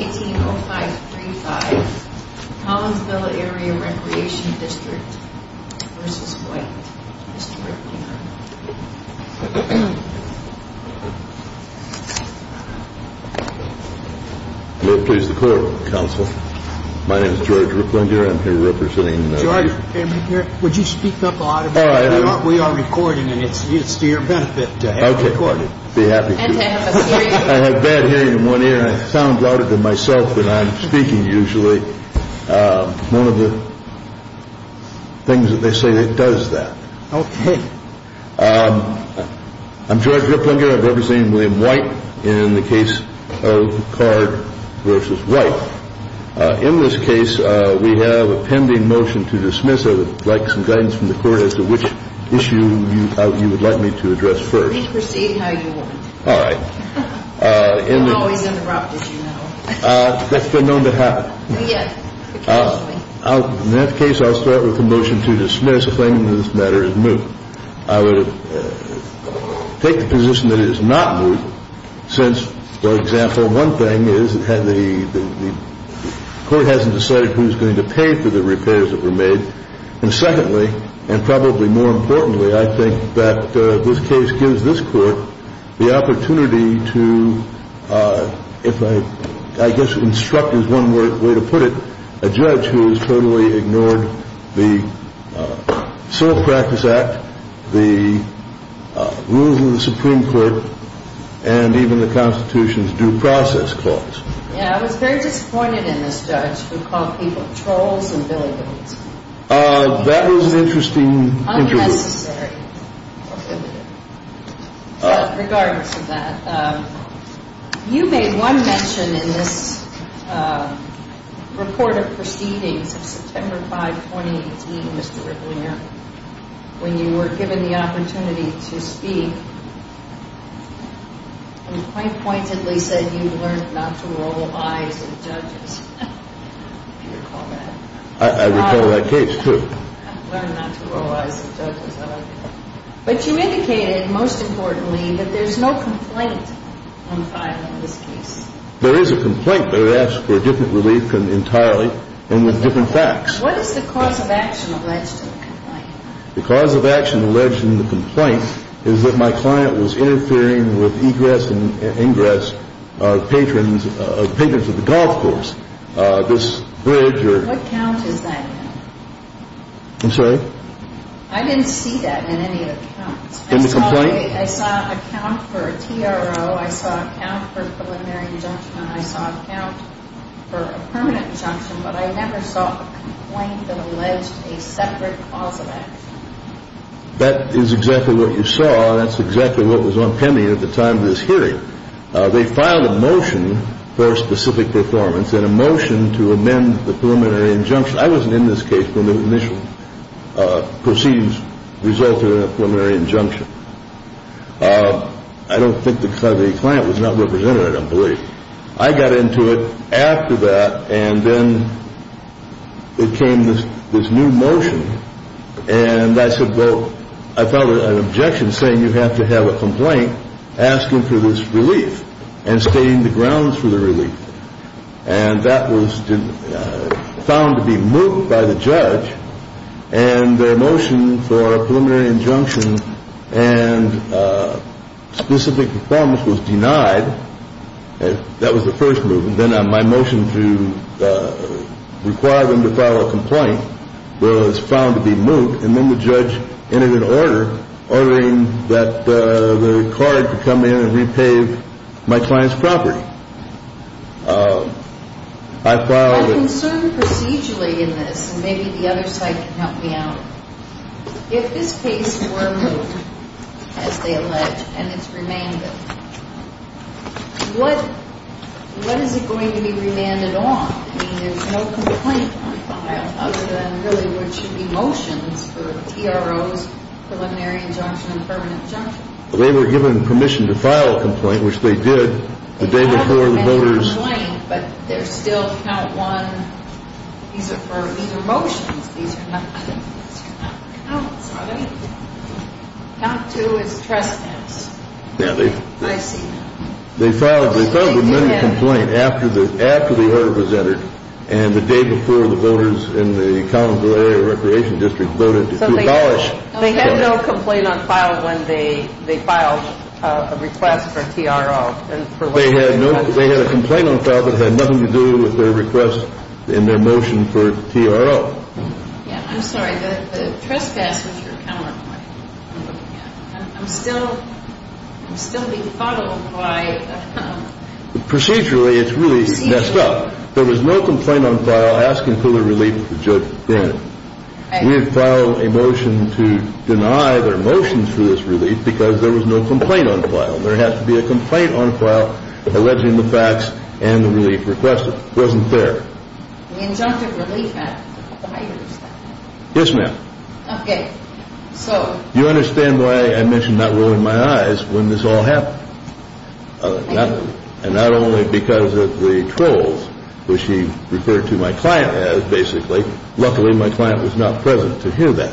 18.0535 Collinsville Area Recreation District v. White Mr. Ricklinger Will it please the clerk, counsel? My name is George Ricklinger, I'm here representing the... George, would you speak up a little bit? We are recording, and it's to your benefit to have it recorded. I'd be happy to. And to have us hear you. I have bad hearing in one ear, and I sound louder than myself when I'm speaking usually. One of the things that they say that does that. Okay. I'm George Ricklinger, I'm representing William White in the case of Card v. White. In this case, we have a pending motion to dismiss. I would like some guidance from the court as to which issue you would like me to address first. Please proceed how you want. All right. I'm always interrupted, you know. That's been known to happen. Yes, occasionally. In that case, I'll start with the motion to dismiss, claiming that this matter is moot. I would take the position that it is not moot, since, for example, one thing is that the court hasn't decided who's going to pay for the repairs that were made. And secondly, and probably more importantly, I think that this case gives this court the opportunity to, if I guess instruct is one way to put it, a judge who has totally ignored the Civil Practice Act, the rules of the Supreme Court, and even the Constitution's due process clause. Yeah, I was very disappointed in this judge who called people trolls and billygoats. That was an interesting intro. Unnecessary. Regardless of that, you made one mention in this report of proceedings of September 5, 2018, Mr. Ricklinger, when you were given the opportunity to speak and point pointedly said you've learned not to roll eyes at judges. Do you recall that? I recall that case, too. Learned not to roll eyes at judges. But you indicated, most importantly, that there's no complaint on file in this case. There is a complaint, but it asks for a different relief entirely and with different facts. What is the cause of action alleged in the complaint? The cause of action alleged in the complaint is that my client was interfering with egress and ingress of patrons of the golf course, this bridge. What count is that in? I'm sorry? I didn't see that in any of the counts. In the complaint? I saw a count for a TRO, I saw a count for a preliminary injunction, and I saw a count for a permanent injunction, but I never saw a complaint that alleged a separate cause of action. That is exactly what you saw. That's exactly what was on pending at the time of this hearing. They filed a motion for a specific performance and a motion to amend the preliminary injunction. I wasn't in this case when the initial proceedings resulted in a preliminary injunction. I don't think the client was not represented, I don't believe. I got into it after that, and then it came this new motion, and I said, well, I filed an objection saying you have to have a complaint asking for this relief and stating the grounds for the relief. And that was found to be moot by the judge, and the motion for a preliminary injunction and specific performance was denied. That was the first move. Then my motion to require them to file a complaint was found to be moot, and then the judge entered an order ordering that the card to come in and repave my client's property. I filed a- I'm concerned procedurally in this, and maybe the other side can help me out. If this case were moot, as they allege, and it's remanded, what is it going to be remanded on? I mean, there's no complaint to be filed other than really what should be motions for TROs, preliminary injunction, and permanent injunction. They were given permission to file a complaint, which they did the day before the voters- They filed many complaints, but they're still count one. These are motions. These are not counts on anything. Count two is trespass. Yeah, they- I see. They filed many complaints after the order was entered, and the day before the voters in the County Recreation District voted to abolish- They had no complaint on file when they filed a request for TRO. They had a complaint on file that had nothing to do with their request in their motion for TRO. I'm sorry. The trespass was your counterpoint. I'm still being followed by- Procedurally, it's really messed up. There was no complaint on file asking for the relief of the judge then. We had filed a motion to deny their motions for this relief because there was no complaint on file. There has to be a complaint on file alleging the facts and the relief requested. It wasn't there. The Injunctive Relief Act, I understand. Yes, ma'am. Okay, so- You understand why I mentioned not rolling my eyes when this all happened, and not only because of the trolls, which he referred to my client as, basically. Luckily, my client was not present to hear that.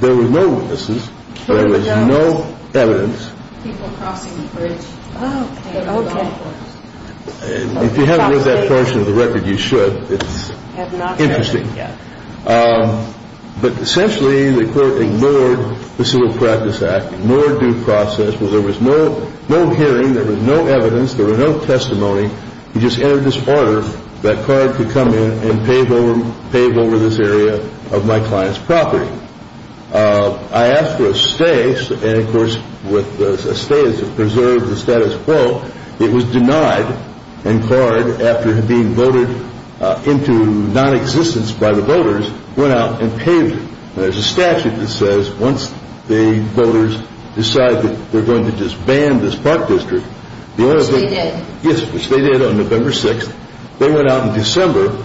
There were no witnesses. There was no evidence. People crossing the bridge. Okay, okay. If you haven't read that portion of the record, you should. It's interesting. But essentially, the court ignored the Civil Practice Act, ignored due process. There was no hearing. There was no evidence. There was no testimony. He just entered this order that CARD could come in and pave over this area of my client's property. I asked for a stay, and, of course, with a stay is a preserved status quo. It was denied, and CARD, after being voted into nonexistence by the voters, went out and paved it. There's a statute that says once the voters decide that they're going to disband this park district- Which they did. Yes, which they did on November 6th. They went out in December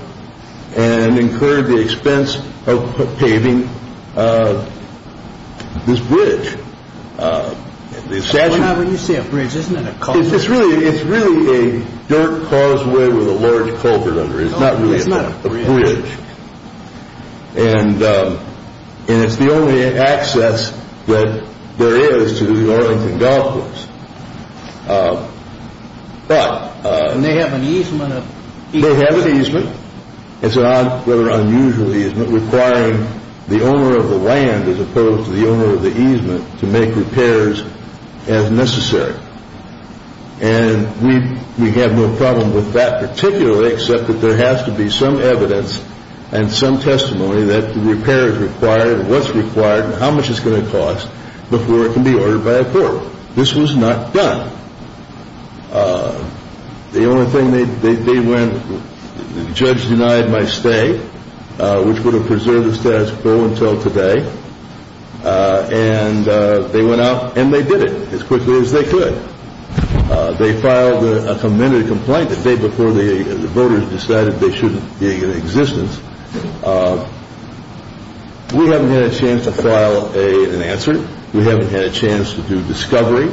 and incurred the expense of paving this bridge. When you say a bridge, isn't it a culvert? It's really a dirt causeway with a large culvert under it. It's not really a bridge. And it's the only access that there is to the Orlington Golf Course. But- And they have an easement of- They have an easement. It's an unusual easement requiring the owner of the land as opposed to the owner of the easement to make repairs as necessary. And we have no problem with that particularly except that there has to be some evidence and some testimony that the repair is required and what's required and how much it's going to cost before it can be ordered by a foreman. This was not done. The only thing they went- The judge denied my stay, which would have preserved the status quo until today. And they went out and they did it as quickly as they could. They filed a commendatory complaint the day before the voters decided they shouldn't be in existence. We haven't had a chance to file an answer. We haven't had a chance to do discovery.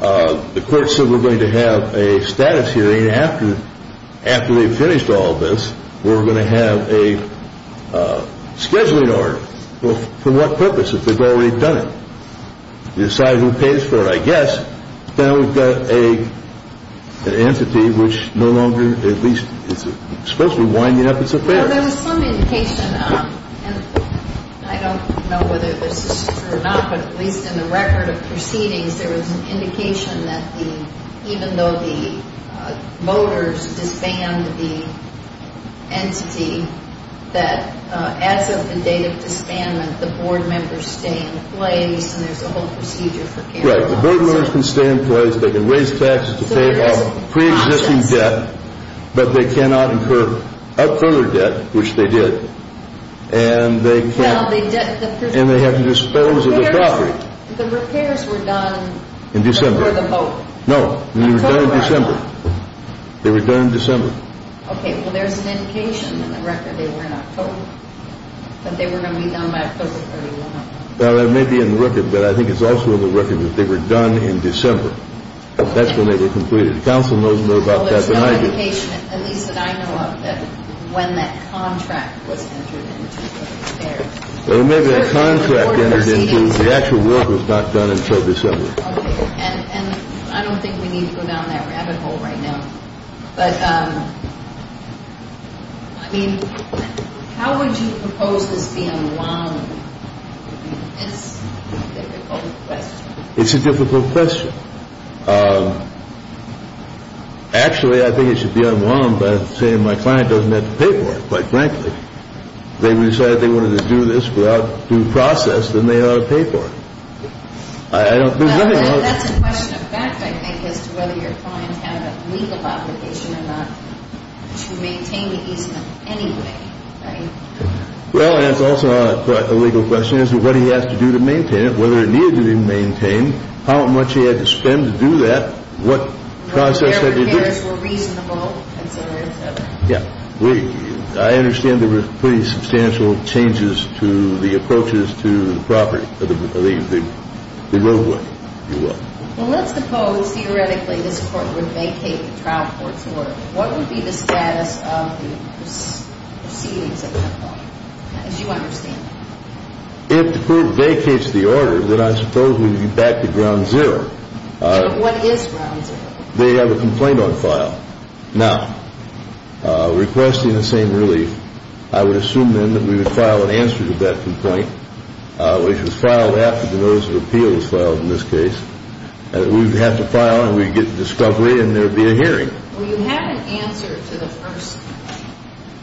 The court said we're going to have a status hearing after they've finished all this. We're going to have a scheduling order. Well, for what purpose if they've already done it? They decide who pays for it, I guess. Now we've got an entity which no longer at least is supposed to be winding up its affairs. Well, there was some indication, and I don't know whether this is true or not, but at least in the record of proceedings there was an indication that even though the voters disbanded the entity, that as of the date of disbandment the board members stay in place and there's a whole procedure for carrying on. Right. The board members can stay in place. They can raise taxes to pay off preexisting debt. But they cannot incur upfront debt, which they did. And they have to dispose of the property. The repairs were done before the vote. No. They were done in December. Okay. Well, there's an indication in the record they were in October that they were going to be done by October 31. That may be in the record, but I think it's also in the record that they were done in December. That's when they were completed. The council knows more about that than I do. There's an indication, at least that I know of, that when that contract was entered into the repairs. There may be a contract entered into. The actual work was not done until December. Okay. And I don't think we need to go down that rabbit hole right now. But, I mean, how would you propose this be unwinded? It's a difficult question. It's a difficult question. Actually, I think it should be unwound by saying my client doesn't have to pay for it, quite frankly. If they decided they wanted to do this without due process, then they ought to pay for it. That's a question of fact, I think, as to whether your client had a legal obligation or not to maintain the easement anyway, right? Well, and it's also a legal question as to what he has to do to maintain it, whether it needed to be maintained, how much he had to spend to do that, what process had to be done. The repairs were reasonable, et cetera, et cetera. Yeah. I understand there were pretty substantial changes to the approaches to the property, the road work, if you will. Well, let's suppose, theoretically, this court would vacate the trial court's order. What would be the status of the proceedings at that point, as you understand it? If the court vacates the order, then I suppose we would be back to ground zero. What is ground zero? They have a complaint on file. Now, requesting the same relief, I would assume then that we would file an answer to that complaint, which was filed after the notice of appeal was filed in this case. We would have to file, and we would get the discovery, and there would be a hearing. Well, you had an answer to the first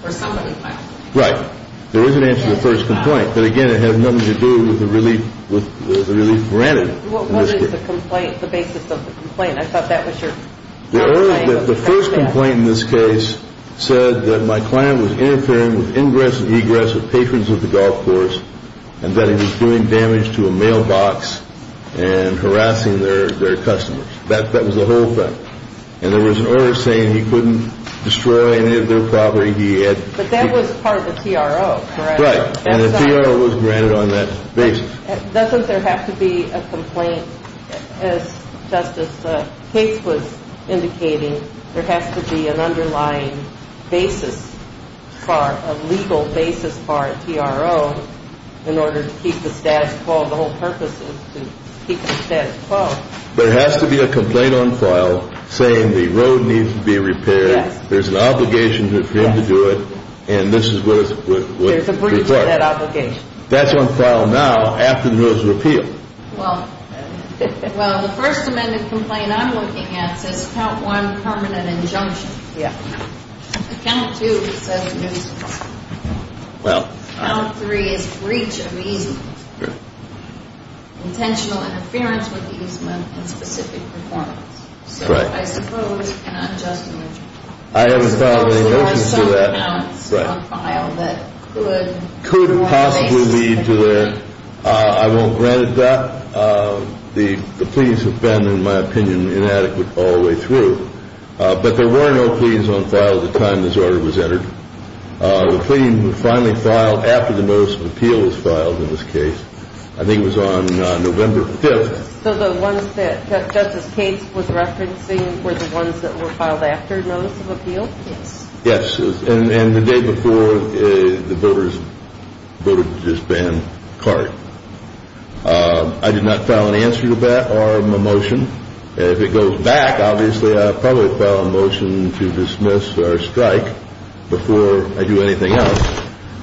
or somebody filed. Right. There was an answer to the first complaint. But, again, it had nothing to do with the relief granted in this case. What is the complaint, the basis of the complaint? I thought that was your complaint. The first complaint in this case said that my client was interfering with ingress and egress with patrons of the golf course and that he was doing damage to a mailbox and harassing their customers. That was the whole thing. And there was an order saying he couldn't destroy any of their property. But that was part of the TRO, correct? Right, and the TRO was granted on that basis. Doesn't there have to be a complaint, as Justice Cates was indicating, there has to be an underlying basis for a legal basis for a TRO in order to keep the status quo? The whole purpose is to keep the status quo. There has to be a complaint on file saying the road needs to be repaired, there's an obligation for him to do it, and this is what is required. There's a breach of that obligation. That's on file now after the road is repealed. Well, the first amended complaint I'm looking at says Count 1, permanent injunction. Yeah. Count 2 says no use of property. Well. Count 3 is breach of easement. Correct. Intentional interference with easement and specific performance. Correct. I suppose an unjust image. I haven't filed a motion to that. I suppose there were some accounts on file that could. Could possibly lead to that. I won't grant it that. The pleas have been, in my opinion, inadequate all the way through. But there were no pleas on file at the time this order was entered. The plea was finally filed after the notice of appeal was filed in this case. I think it was on November 5th. So the ones that Justice Cates was referencing were the ones that were filed after notice of appeal? Yes. And the day before the voters voted to disband CART. I did not file an answer to that or a motion. If it goes back, obviously I'll probably file a motion to dismiss or strike before I do anything else.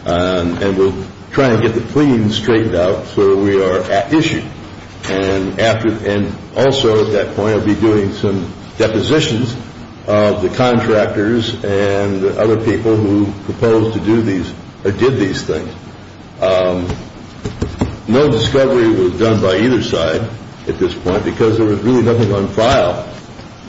And we'll try and get the pleading straightened out so that we are at issue. And also at that point I'll be doing some depositions of the contractors and other people who proposed to do these or did these things. No discovery was done by either side at this point because there was really nothing on file.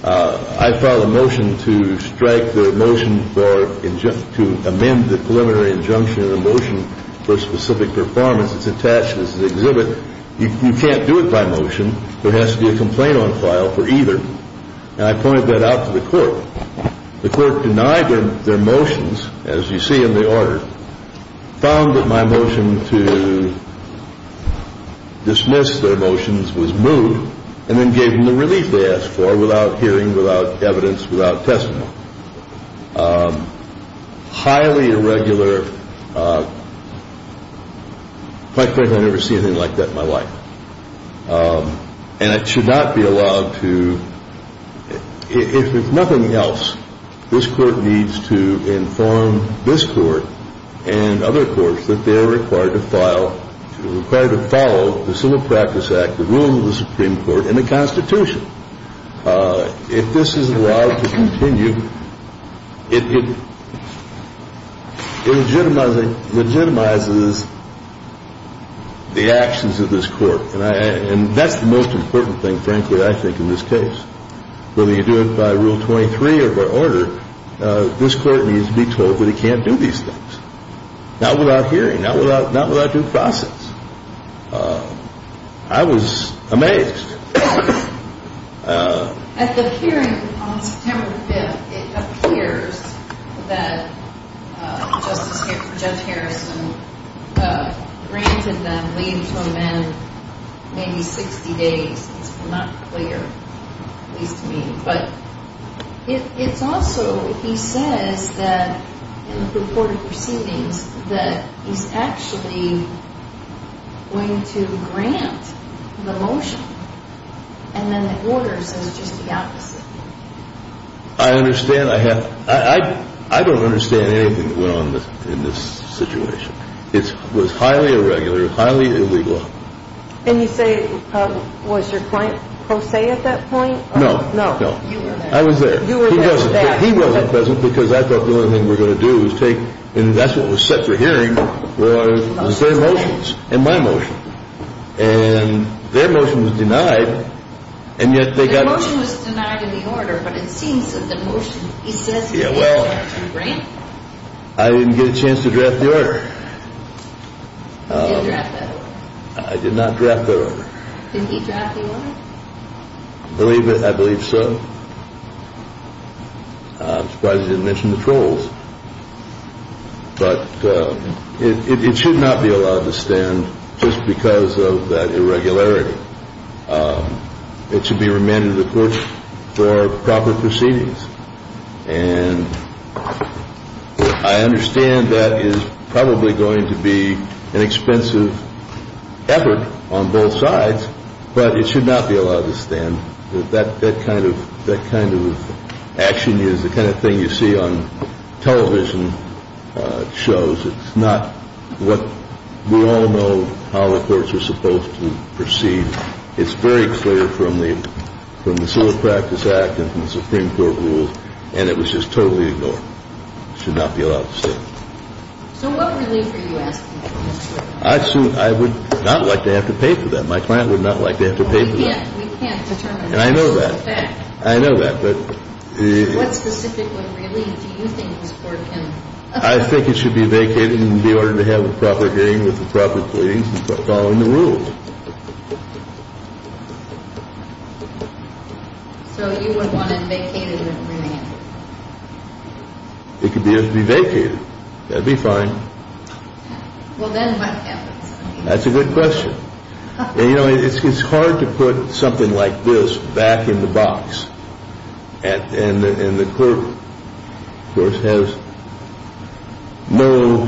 I filed a motion to strike the motion to amend the preliminary injunction in the motion for specific performance. It's attached as an exhibit. You can't do it by motion. There has to be a complaint on file for either. And I pointed that out to the court. The court denied their motions, as you see in the order, found that my motion to dismiss their motions was moved and then gave them the relief they asked for without hearing, without evidence, without testimony. Highly irregular. Quite frankly, I've never seen anything like that in my life. And it should not be allowed to, if nothing else, this court needs to inform this court and other courts that they are required to file, required to follow the Civil Practice Act, the rules of the Supreme Court, and the Constitution. If this is allowed to continue, it legitimizes the actions of this court. And that's the most important thing, frankly, I think, in this case. Whether you do it by Rule 23 or by order, this court needs to be told that it can't do these things. Not without hearing, not without due process. I was amazed. At the hearing on September 5th, it appears that Judge Harrison granted them leave to amend maybe 60 days. It's not clear, at least to me. But it's also, he says that, in the purported proceedings, that he's actually going to grant the motion. And then the order says just the opposite. I understand. I don't understand anything that went on in this situation. It was highly irregular, highly illegal. And you say, was your client pro se at that point? No. I was there. He wasn't present because I thought the only thing we were going to do was take, and that's what was set for hearing, was their motions and my motion. And their motion was denied, and yet they got it. The motion was denied in the order, but it seems that the motion, he says he's going to grant it. I didn't get a chance to draft the order. You didn't draft that order? I did not draft that order. Didn't he draft the order? I believe so. I'm surprised he didn't mention the trolls. But it should not be allowed to stand just because of that irregularity. It should be remanded to the courts for proper proceedings. And I understand that is probably going to be an expensive effort on both sides, but it should not be allowed to stand. That kind of action is the kind of thing you see on television shows. It's not what we all know how the courts are supposed to proceed. It's very clear from the Civil Practice Act and from the Supreme Court rules, and it was just totally ignored. It should not be allowed to stand. So what relief are you asking for? I would not like to have to pay for that. My client would not like to have to pay for that. We can't determine that. And I know that. I know that. What specific relief do you think this Court can afford? I think it should be vacated in order to have a proper hearing with the proper proceedings following the rules. So you would want it vacated and remanded? It could be vacated. That would be fine. Well, then what happens? That's a good question. You know, it's hard to put something like this back in the box. And the clerk, of course, has no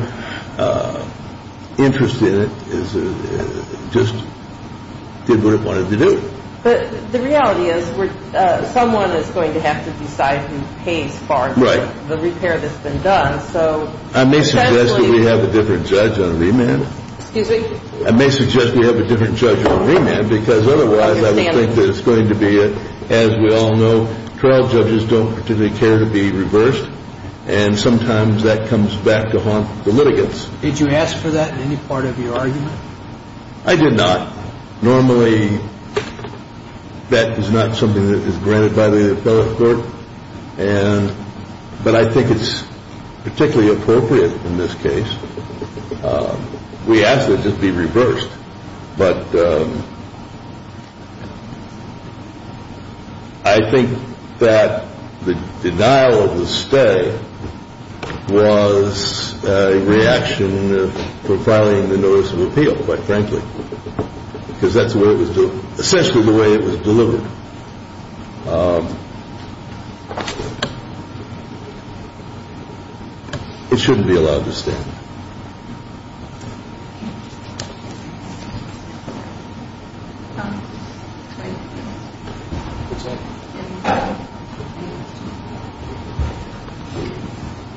interest in it, just did what it wanted to do. But the reality is someone is going to have to decide who pays for the repair that's been done. I may suggest that we have a different judge on remand. Excuse me? I may suggest we have a different judge on remand because otherwise I would think that it's going to be something that, as we all know, trial judges don't particularly care to be reversed, and sometimes that comes back to haunt the litigants. Did you ask for that in any part of your argument? I did not. Normally that is not something that is granted by the appellate court, but I think it's particularly appropriate in this case. We ask that it be reversed, but I think that the denial of the stay was a reaction to filing the notice of appeal, quite frankly, because that's essentially the way it was delivered. It shouldn't be allowed to stand.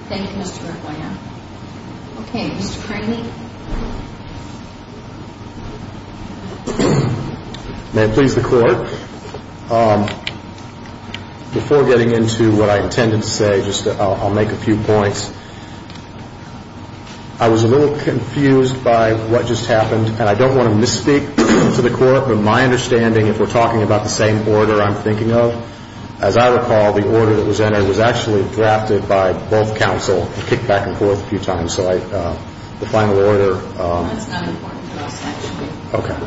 Thank you, Mr. McGuire. Okay, Mr. Craney? May it please the clerk? Before getting into what I intended to say, I'll make a few points. I was a little confused by what just happened, and I don't want to misspeak to the court, but my understanding, if we're talking about the same order I'm thinking of, as I recall, the order that was entered was actually drafted by both counsel and kicked back and forth a few times, so the final order. That's not important to us, actually. Okay.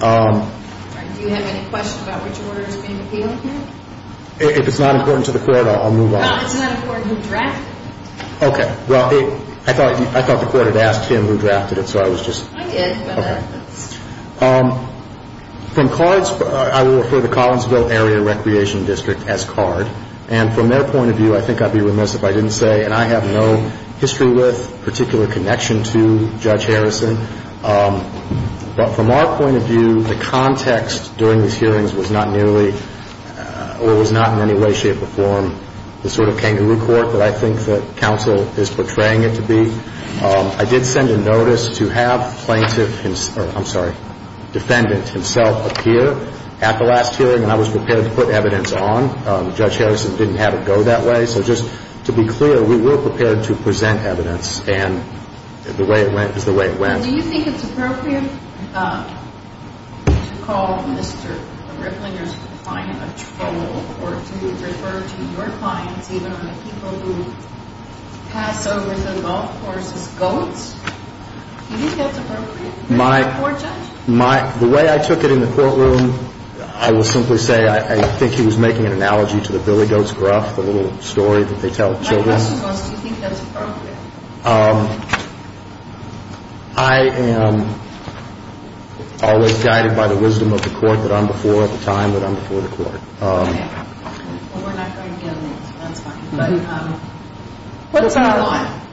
Do you have any questions about which order is being appealed here? If it's not important to the court, I'll move on. No, it's not important who drafted it. Okay. Well, I thought the court had asked him who drafted it, so I was just... I did, but... Okay. From CARD's, I will refer to Collinsville Area Recreation District as CARD, and from their point of view, I think I'd be remiss if I didn't say, and I have no history with particular connection to Judge Harrison, but from our point of view, the context during these hearings was not nearly or was not in any way, shape, or form the sort of kangaroo court that I think that counsel is portraying it to be. I did send a notice to have plaintiff, I'm sorry, defendant himself appear at the last hearing, and I was prepared to put evidence on. Judge Harrison didn't have it go that way, so just to be clear, we were prepared to present evidence, and the way it went is the way it went. Do you think it's appropriate to call Mr. Ripplinger's client a troll or to refer to your clients even on the people who pass over the golf course as goats? Do you think that's appropriate for a court judge? The way I took it in the courtroom, I will simply say I think he was making an analogy to the billy goat's gruff, the little story that they tell children. My question was, do you think that's appropriate? I am always guided by the wisdom of the court that I'm before, the time that I'm before the court. Okay. Well, we're not going to get into that. That's fine.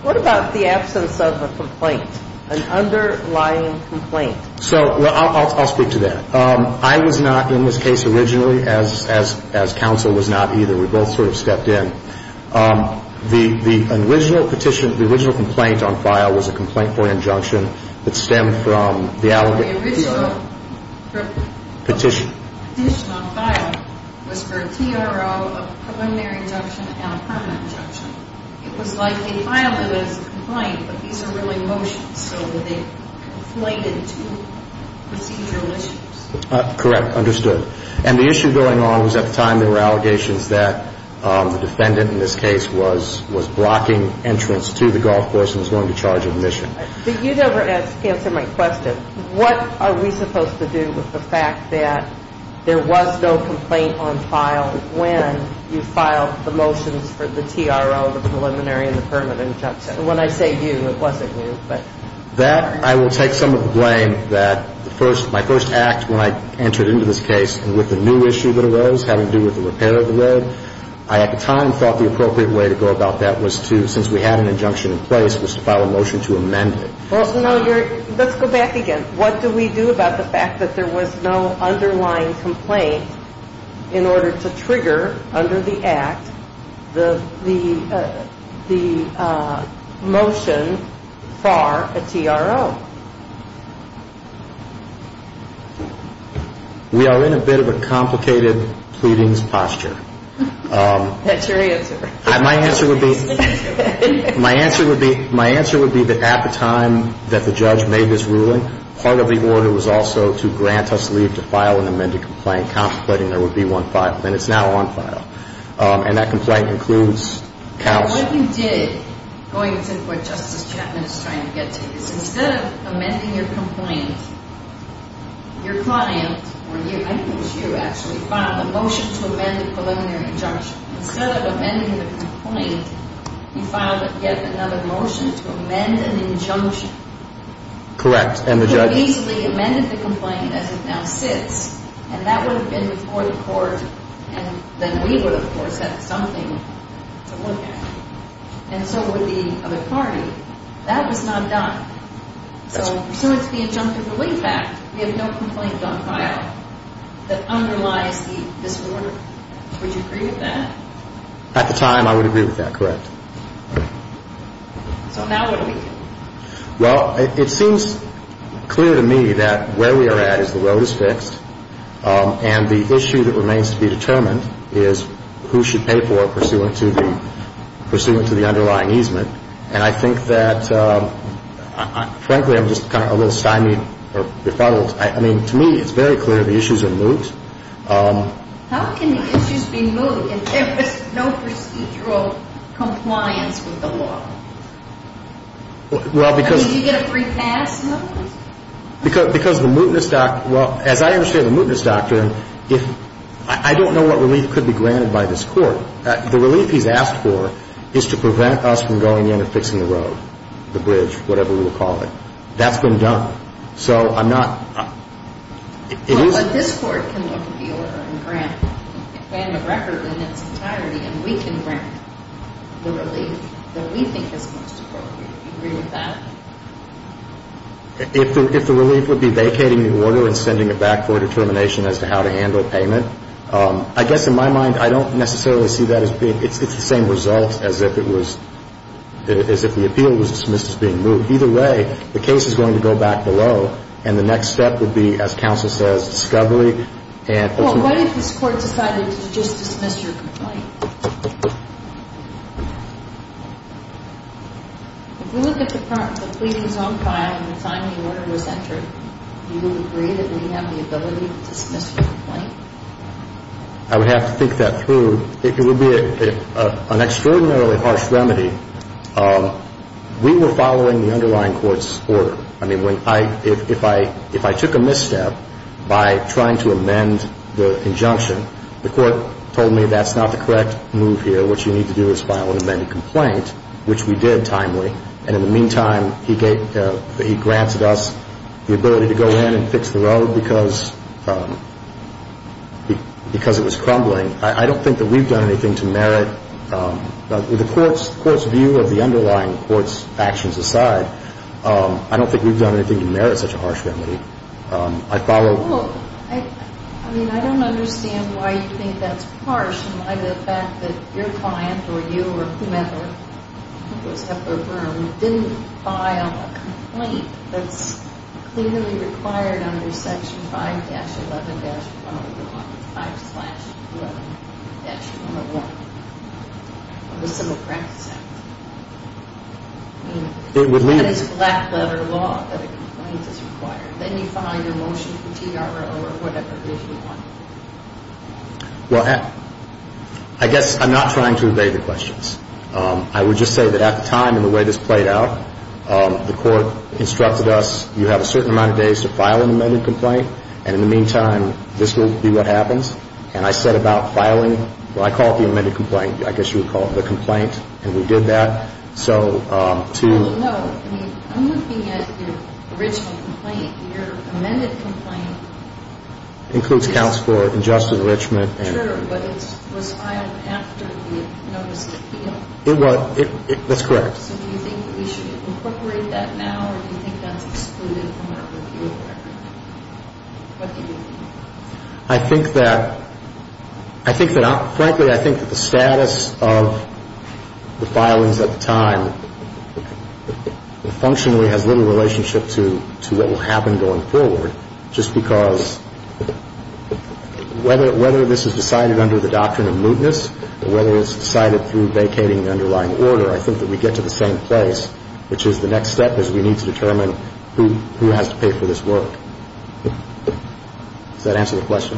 What about the absence of a complaint, an underlying complaint? I'll speak to that. I was not in this case originally, as counsel was not either. We both sort of stepped in. The original petition, the original complaint on file was a complaint for an injunction that stemmed from the allegation. The original petition on file was for a TRO, a preliminary injunction, and a permanent injunction. It was like they filed it as a complaint, but these are really motions, so they conflated two procedural issues. Correct. Understood. And the issue going on was at the time there were allegations that the defendant in this case was blocking entrance to the golf course and was going to charge admission. But you never answered my question. What are we supposed to do with the fact that there was no complaint on file when you filed the motions for the TRO, the preliminary, and the permanent injunction? When I say you, it wasn't you. That I will take some of the blame that my first act when I entered into this case with the new issue that arose having to do with the repair of the road, I at the time thought the appropriate way to go about that was to, since we had an injunction in place, was to file a motion to amend it. Let's go back again. What do we do about the fact that there was no underlying complaint in order to trigger under the act the motion for a TRO? We are in a bit of a complicated pleadings posture. That's your answer. My answer would be that at the time that the judge made this ruling, part of the order was also to grant us leave to file an amended complaint contemplating there would be one filed, and it's now on file. And that complaint includes couch. What you did, going to what Justice Chapman is trying to get to, is instead of amending your complaint, your client, or I think it was you actually, filed a motion to amend the preliminary injunction. Instead of amending the complaint, you filed yet another motion to amend an injunction. Correct. And the judge easily amended the complaint as it now sits, and that would have been before the court, and then we would, of course, have something to look at. And so would the other party. That was not done. So pursuant to the Injunctive Relief Act, we have no complaint on file that underlies this order. Would you agree with that? At the time, I would agree with that. Correct. So now what do we do? Well, it seems clear to me that where we are at is the road is fixed, and the issue that remains to be determined is who should pay for it pursuant to the underlying easement. And I think that, frankly, I'm just kind of a little stymied or befuddled. I mean, to me, it's very clear the issues are moot. How can the issues be moot if there was no procedural compliance with the law? I mean, do you get a free pass? No. Because the mootness doctrine – well, as I understand the mootness doctrine, I don't know what relief could be granted by this court. The relief he's asked for is to prevent us from going in and fixing the road, the bridge, whatever we will call it. That's been done. So I'm not – it is – Well, but this court can look at the order and grant, and the record in its entirety, and we can grant the relief that we think is most appropriate. Do you agree with that? If the relief would be vacating the order and sending it back for determination as to how to handle payment, I guess in my mind I don't necessarily see that as being – it's the same result as if it was – as if the appeal was dismissed as being moot. Either way, the case is going to go back below, and the next step would be, as counsel says, discovery. Well, what if this court decided to just dismiss your complaint? If you look at the part of the pleading zone file and the time the order was entered, do you agree that we have the ability to dismiss your complaint? I would have to think that through. If it would be an extraordinarily harsh remedy, we were following the underlying court's order. I mean, if I took a misstep by trying to amend the injunction, the court told me that's not the correct move here, what you need to do is file an amended complaint, which we did timely. And in the meantime, he granted us the ability to go in and fix the road because it was crumbling. I don't think that we've done anything to merit. With the court's view of the underlying court's actions aside, I don't think we've done anything to merit such a harsh remedy. I follow. Well, I mean, I don't understand why you think that's harsh, and why the fact that your client or you or whomever, I think it was Hefler-Byrne, didn't file a complaint that's clearly required under Section 5-11-111, 5-11-111, with civil practice. I mean, that is black-letter law that a complaint is required. Then you file your motion for TRO or whatever it is you want. Well, I guess I'm not trying to evade the questions. I would just say that at the time and the way this played out, the court instructed us, you have a certain amount of days to file an amended complaint, and in the meantime, this will be what happens. And I set about filing what I call the amended complaint, I guess you would call it the complaint, and we did that. Well, no. I'm looking at your original complaint, your amended complaint. It includes counts for injustice enrichment. Sure, but it was filed after you had noticed the appeal. That's correct. So do you think we should incorporate that now, or do you think that's excluded from our review of everything? What do you think? I think that, frankly, I think that the status of the filings at the time functionally has little relationship to what will happen going forward, just because whether this is decided under the doctrine of mootness or whether it's decided through vacating the underlying order, I think that we get to the same place, which is the next step is we need to determine who has to pay for this work. Does that answer the question?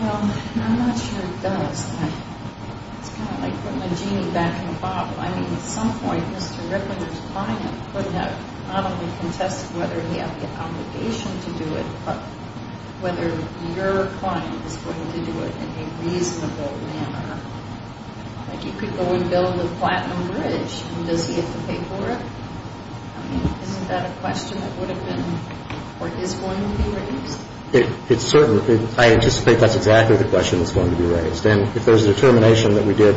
Well, I'm not sure it does. It's kind of like putting a genie back in a bottle. I mean, at some point, Mr. Ricketer's client could have not only contested whether he had the obligation to do it, but whether your client was going to do it in a reasonable manner. Like, he could go and build the Platinum Bridge, and does he have to pay for it? I mean, isn't that a question that would have been or is going to be raised? It's certain. I anticipate that's exactly the question that's going to be raised. And if there's a determination that we did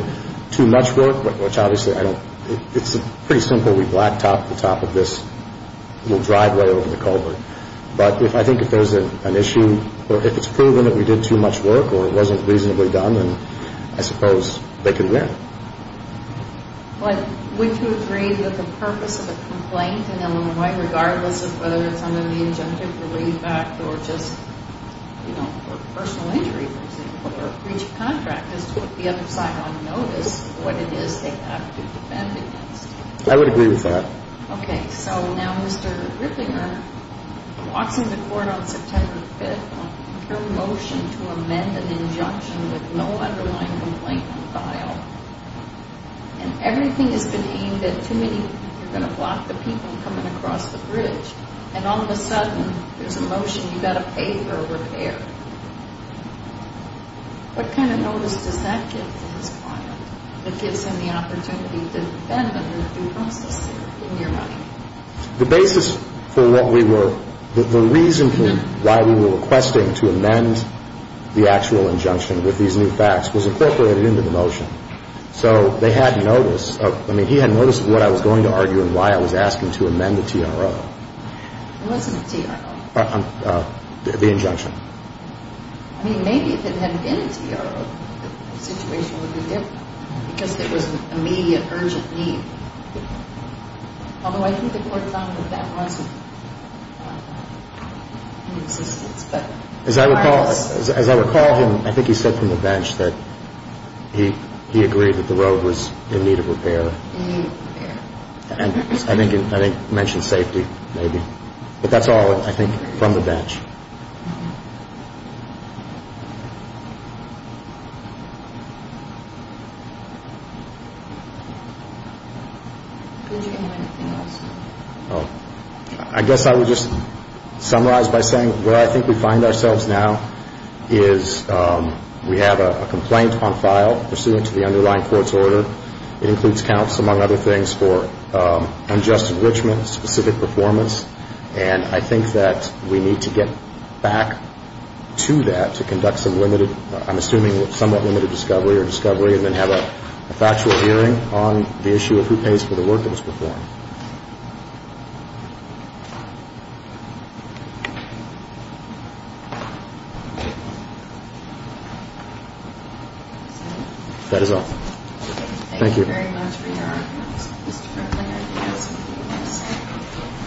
too much work, which obviously I don't – it's pretty simple. We black topped the top of this little driveway over the culvert. But I think if there's an issue or if it's proven that we did too much work or it wasn't reasonably done, then I suppose they can win. Would you agree that the purpose of a complaint in Illinois, regardless of whether it's under the Injunctive Relief Act or just personal injury, for example, or breach of contract, is to put the other side on notice of what it is they have to defend against? I would agree with that. Okay, so now Mr. Ricketer walks into court on September 5th with a motion to amend an injunction with no underlying complaint compiled. And everything has been aimed at too many people. You're going to block the people coming across the bridge, and all of a sudden there's a motion you've got to pay for a repair. What kind of notice does that give to his client that gives him the opportunity to defend under the due process in your mind? The basis for what we were – the reason why we were requesting to amend the actual injunction with these new facts was incorporated into the motion. So they had notice of – I mean, he had notice of what I was going to argue and why I was asking to amend the TRO. It wasn't a TRO. The injunction. I mean, maybe if it hadn't been a TRO, the situation would be different because it was an immediate, urgent need. Although I think the court found that that wasn't in existence. As I recall him, I think he said from the bench that he agreed that the road was in need of repair. In need of repair. And I think he mentioned safety maybe. Could you give me anything else? I guess I would just summarize by saying where I think we find ourselves now is we have a complaint on file pursuant to the underlying court's order. It includes counts, among other things, for unjust enrichment, specific performance. And I think that we need to get back to that to conduct some limited – I'm assuming somewhat limited discovery or discovery and then have a factual hearing on the issue of who pays for the work that was performed. That is all. Thank you. Thank you very much for your arguments, Mr. Kirkland. Thank you. Mr. Kirkland, I want to ask you the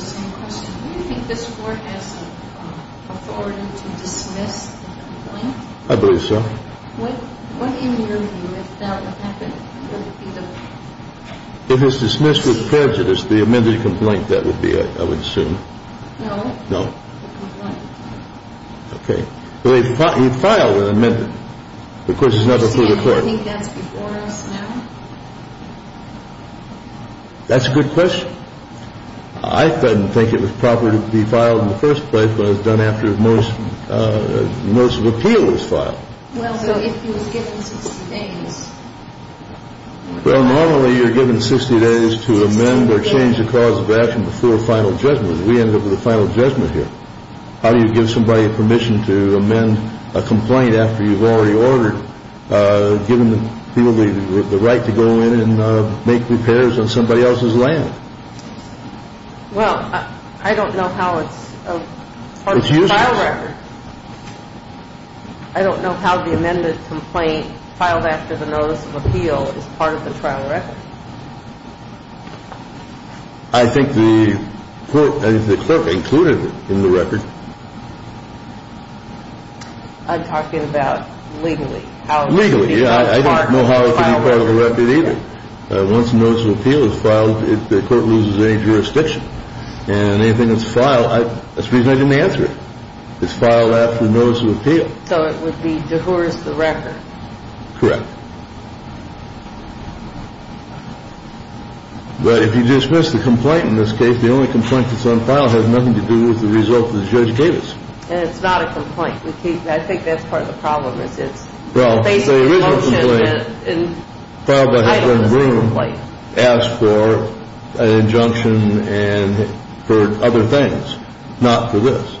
same question. Do you think this court has authority to dismiss the complaint? I believe so. What do you review if that would happen? Would it be the – If it's dismissed with prejudice, the amended complaint, that would be, I would assume. No. No. The complaint. Okay. But he filed an amendment. Of course, it's not up to the court. Do you think that's before us now? That's a good question. I didn't think it was proper to be filed in the first place, but it was done after most of the appeal was filed. Well, normally you're given 60 days to amend or change the cause of action before a final judgment. We ended up with a final judgment here. How do you give somebody permission to amend a complaint after you've already ordered, given people the right to go in and make repairs on somebody else's land? Well, I don't know how it's part of the trial record. I don't know how the amended complaint filed after the notice of appeal is part of the trial record. I think the clerk included it in the record. I'm talking about legally. Legally, yeah. I don't know how it could be part of the record either. Once the notice of appeal is filed, the court loses any jurisdiction. And anything that's filed, that's the reason I didn't answer it. It's filed after the notice of appeal. So it would be dehurst the record. Correct. But if you dismiss the complaint in this case, the only complaint that's on file has nothing to do with the result of the judgment. That's what the judge gave us. And it's not a complaint. I think that's part of the problem. Well, there is a complaint filed by Heffern and Broom, asked for an injunction and for other things, not for this.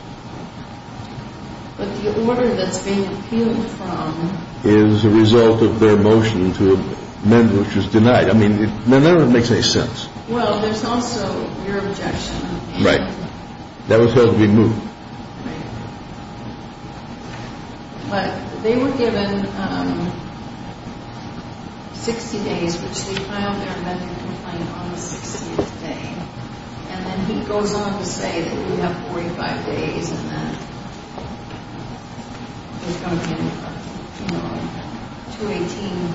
But the order that's being appealed from... Is a result of their motion to amend, which was denied. I mean, it never makes any sense. Well, there's also your objection. Right. That was supposed to be moved. Right. But they were given 60 days, which they filed their medical complaint on the 60th day. And then he goes on to say that we have 45 days and that there's going to be, you know, 218,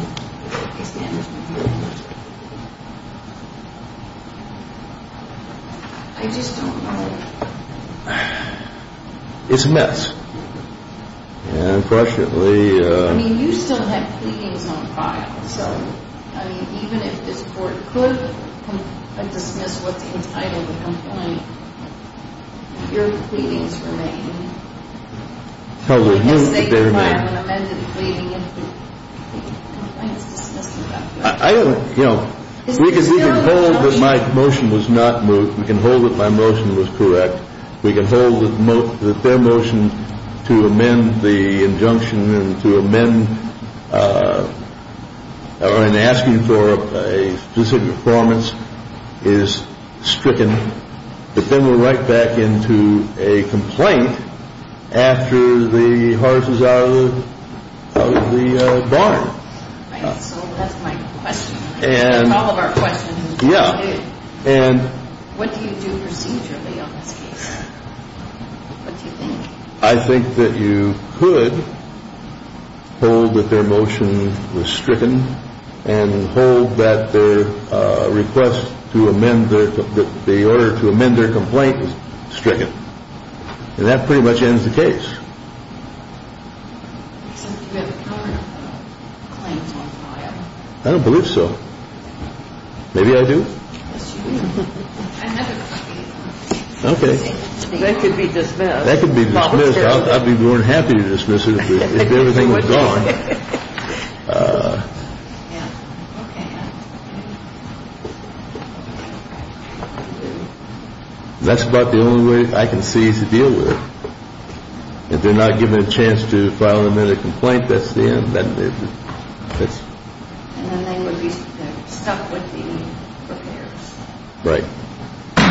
basically. I just don't know. It's a mess. Yeah, unfortunately... I mean, you still have pleadings on file. So, I mean, even if this court could dismiss what's entitled to the complaint, your pleadings remain. As they file an amended pleading and the complaint is dismissed. I don't, you know... We can hold that my motion was not moved. We can hold that my motion was correct. We can hold that their motion to amend the injunction and to amend and asking for a specific performance is stricken. But then we're right back into a complaint after the horse is out of the barn. Right, so that's my question. That's all of our questions. Yeah. What do you do procedurally on this case? What do you think? I think that you could hold that their motion was stricken and hold that their request to amend the order to amend their complaint was stricken. And that pretty much ends the case. I don't believe so. Maybe I do. Okay. That could be dismissed. That could be dismissed. I'd be more than happy to dismiss it if everything was gone. That's about the only way I can see to deal with it. If they're not given a chance to file an amended complaint, that's the end. And then they would be stuck with the repairs. Right.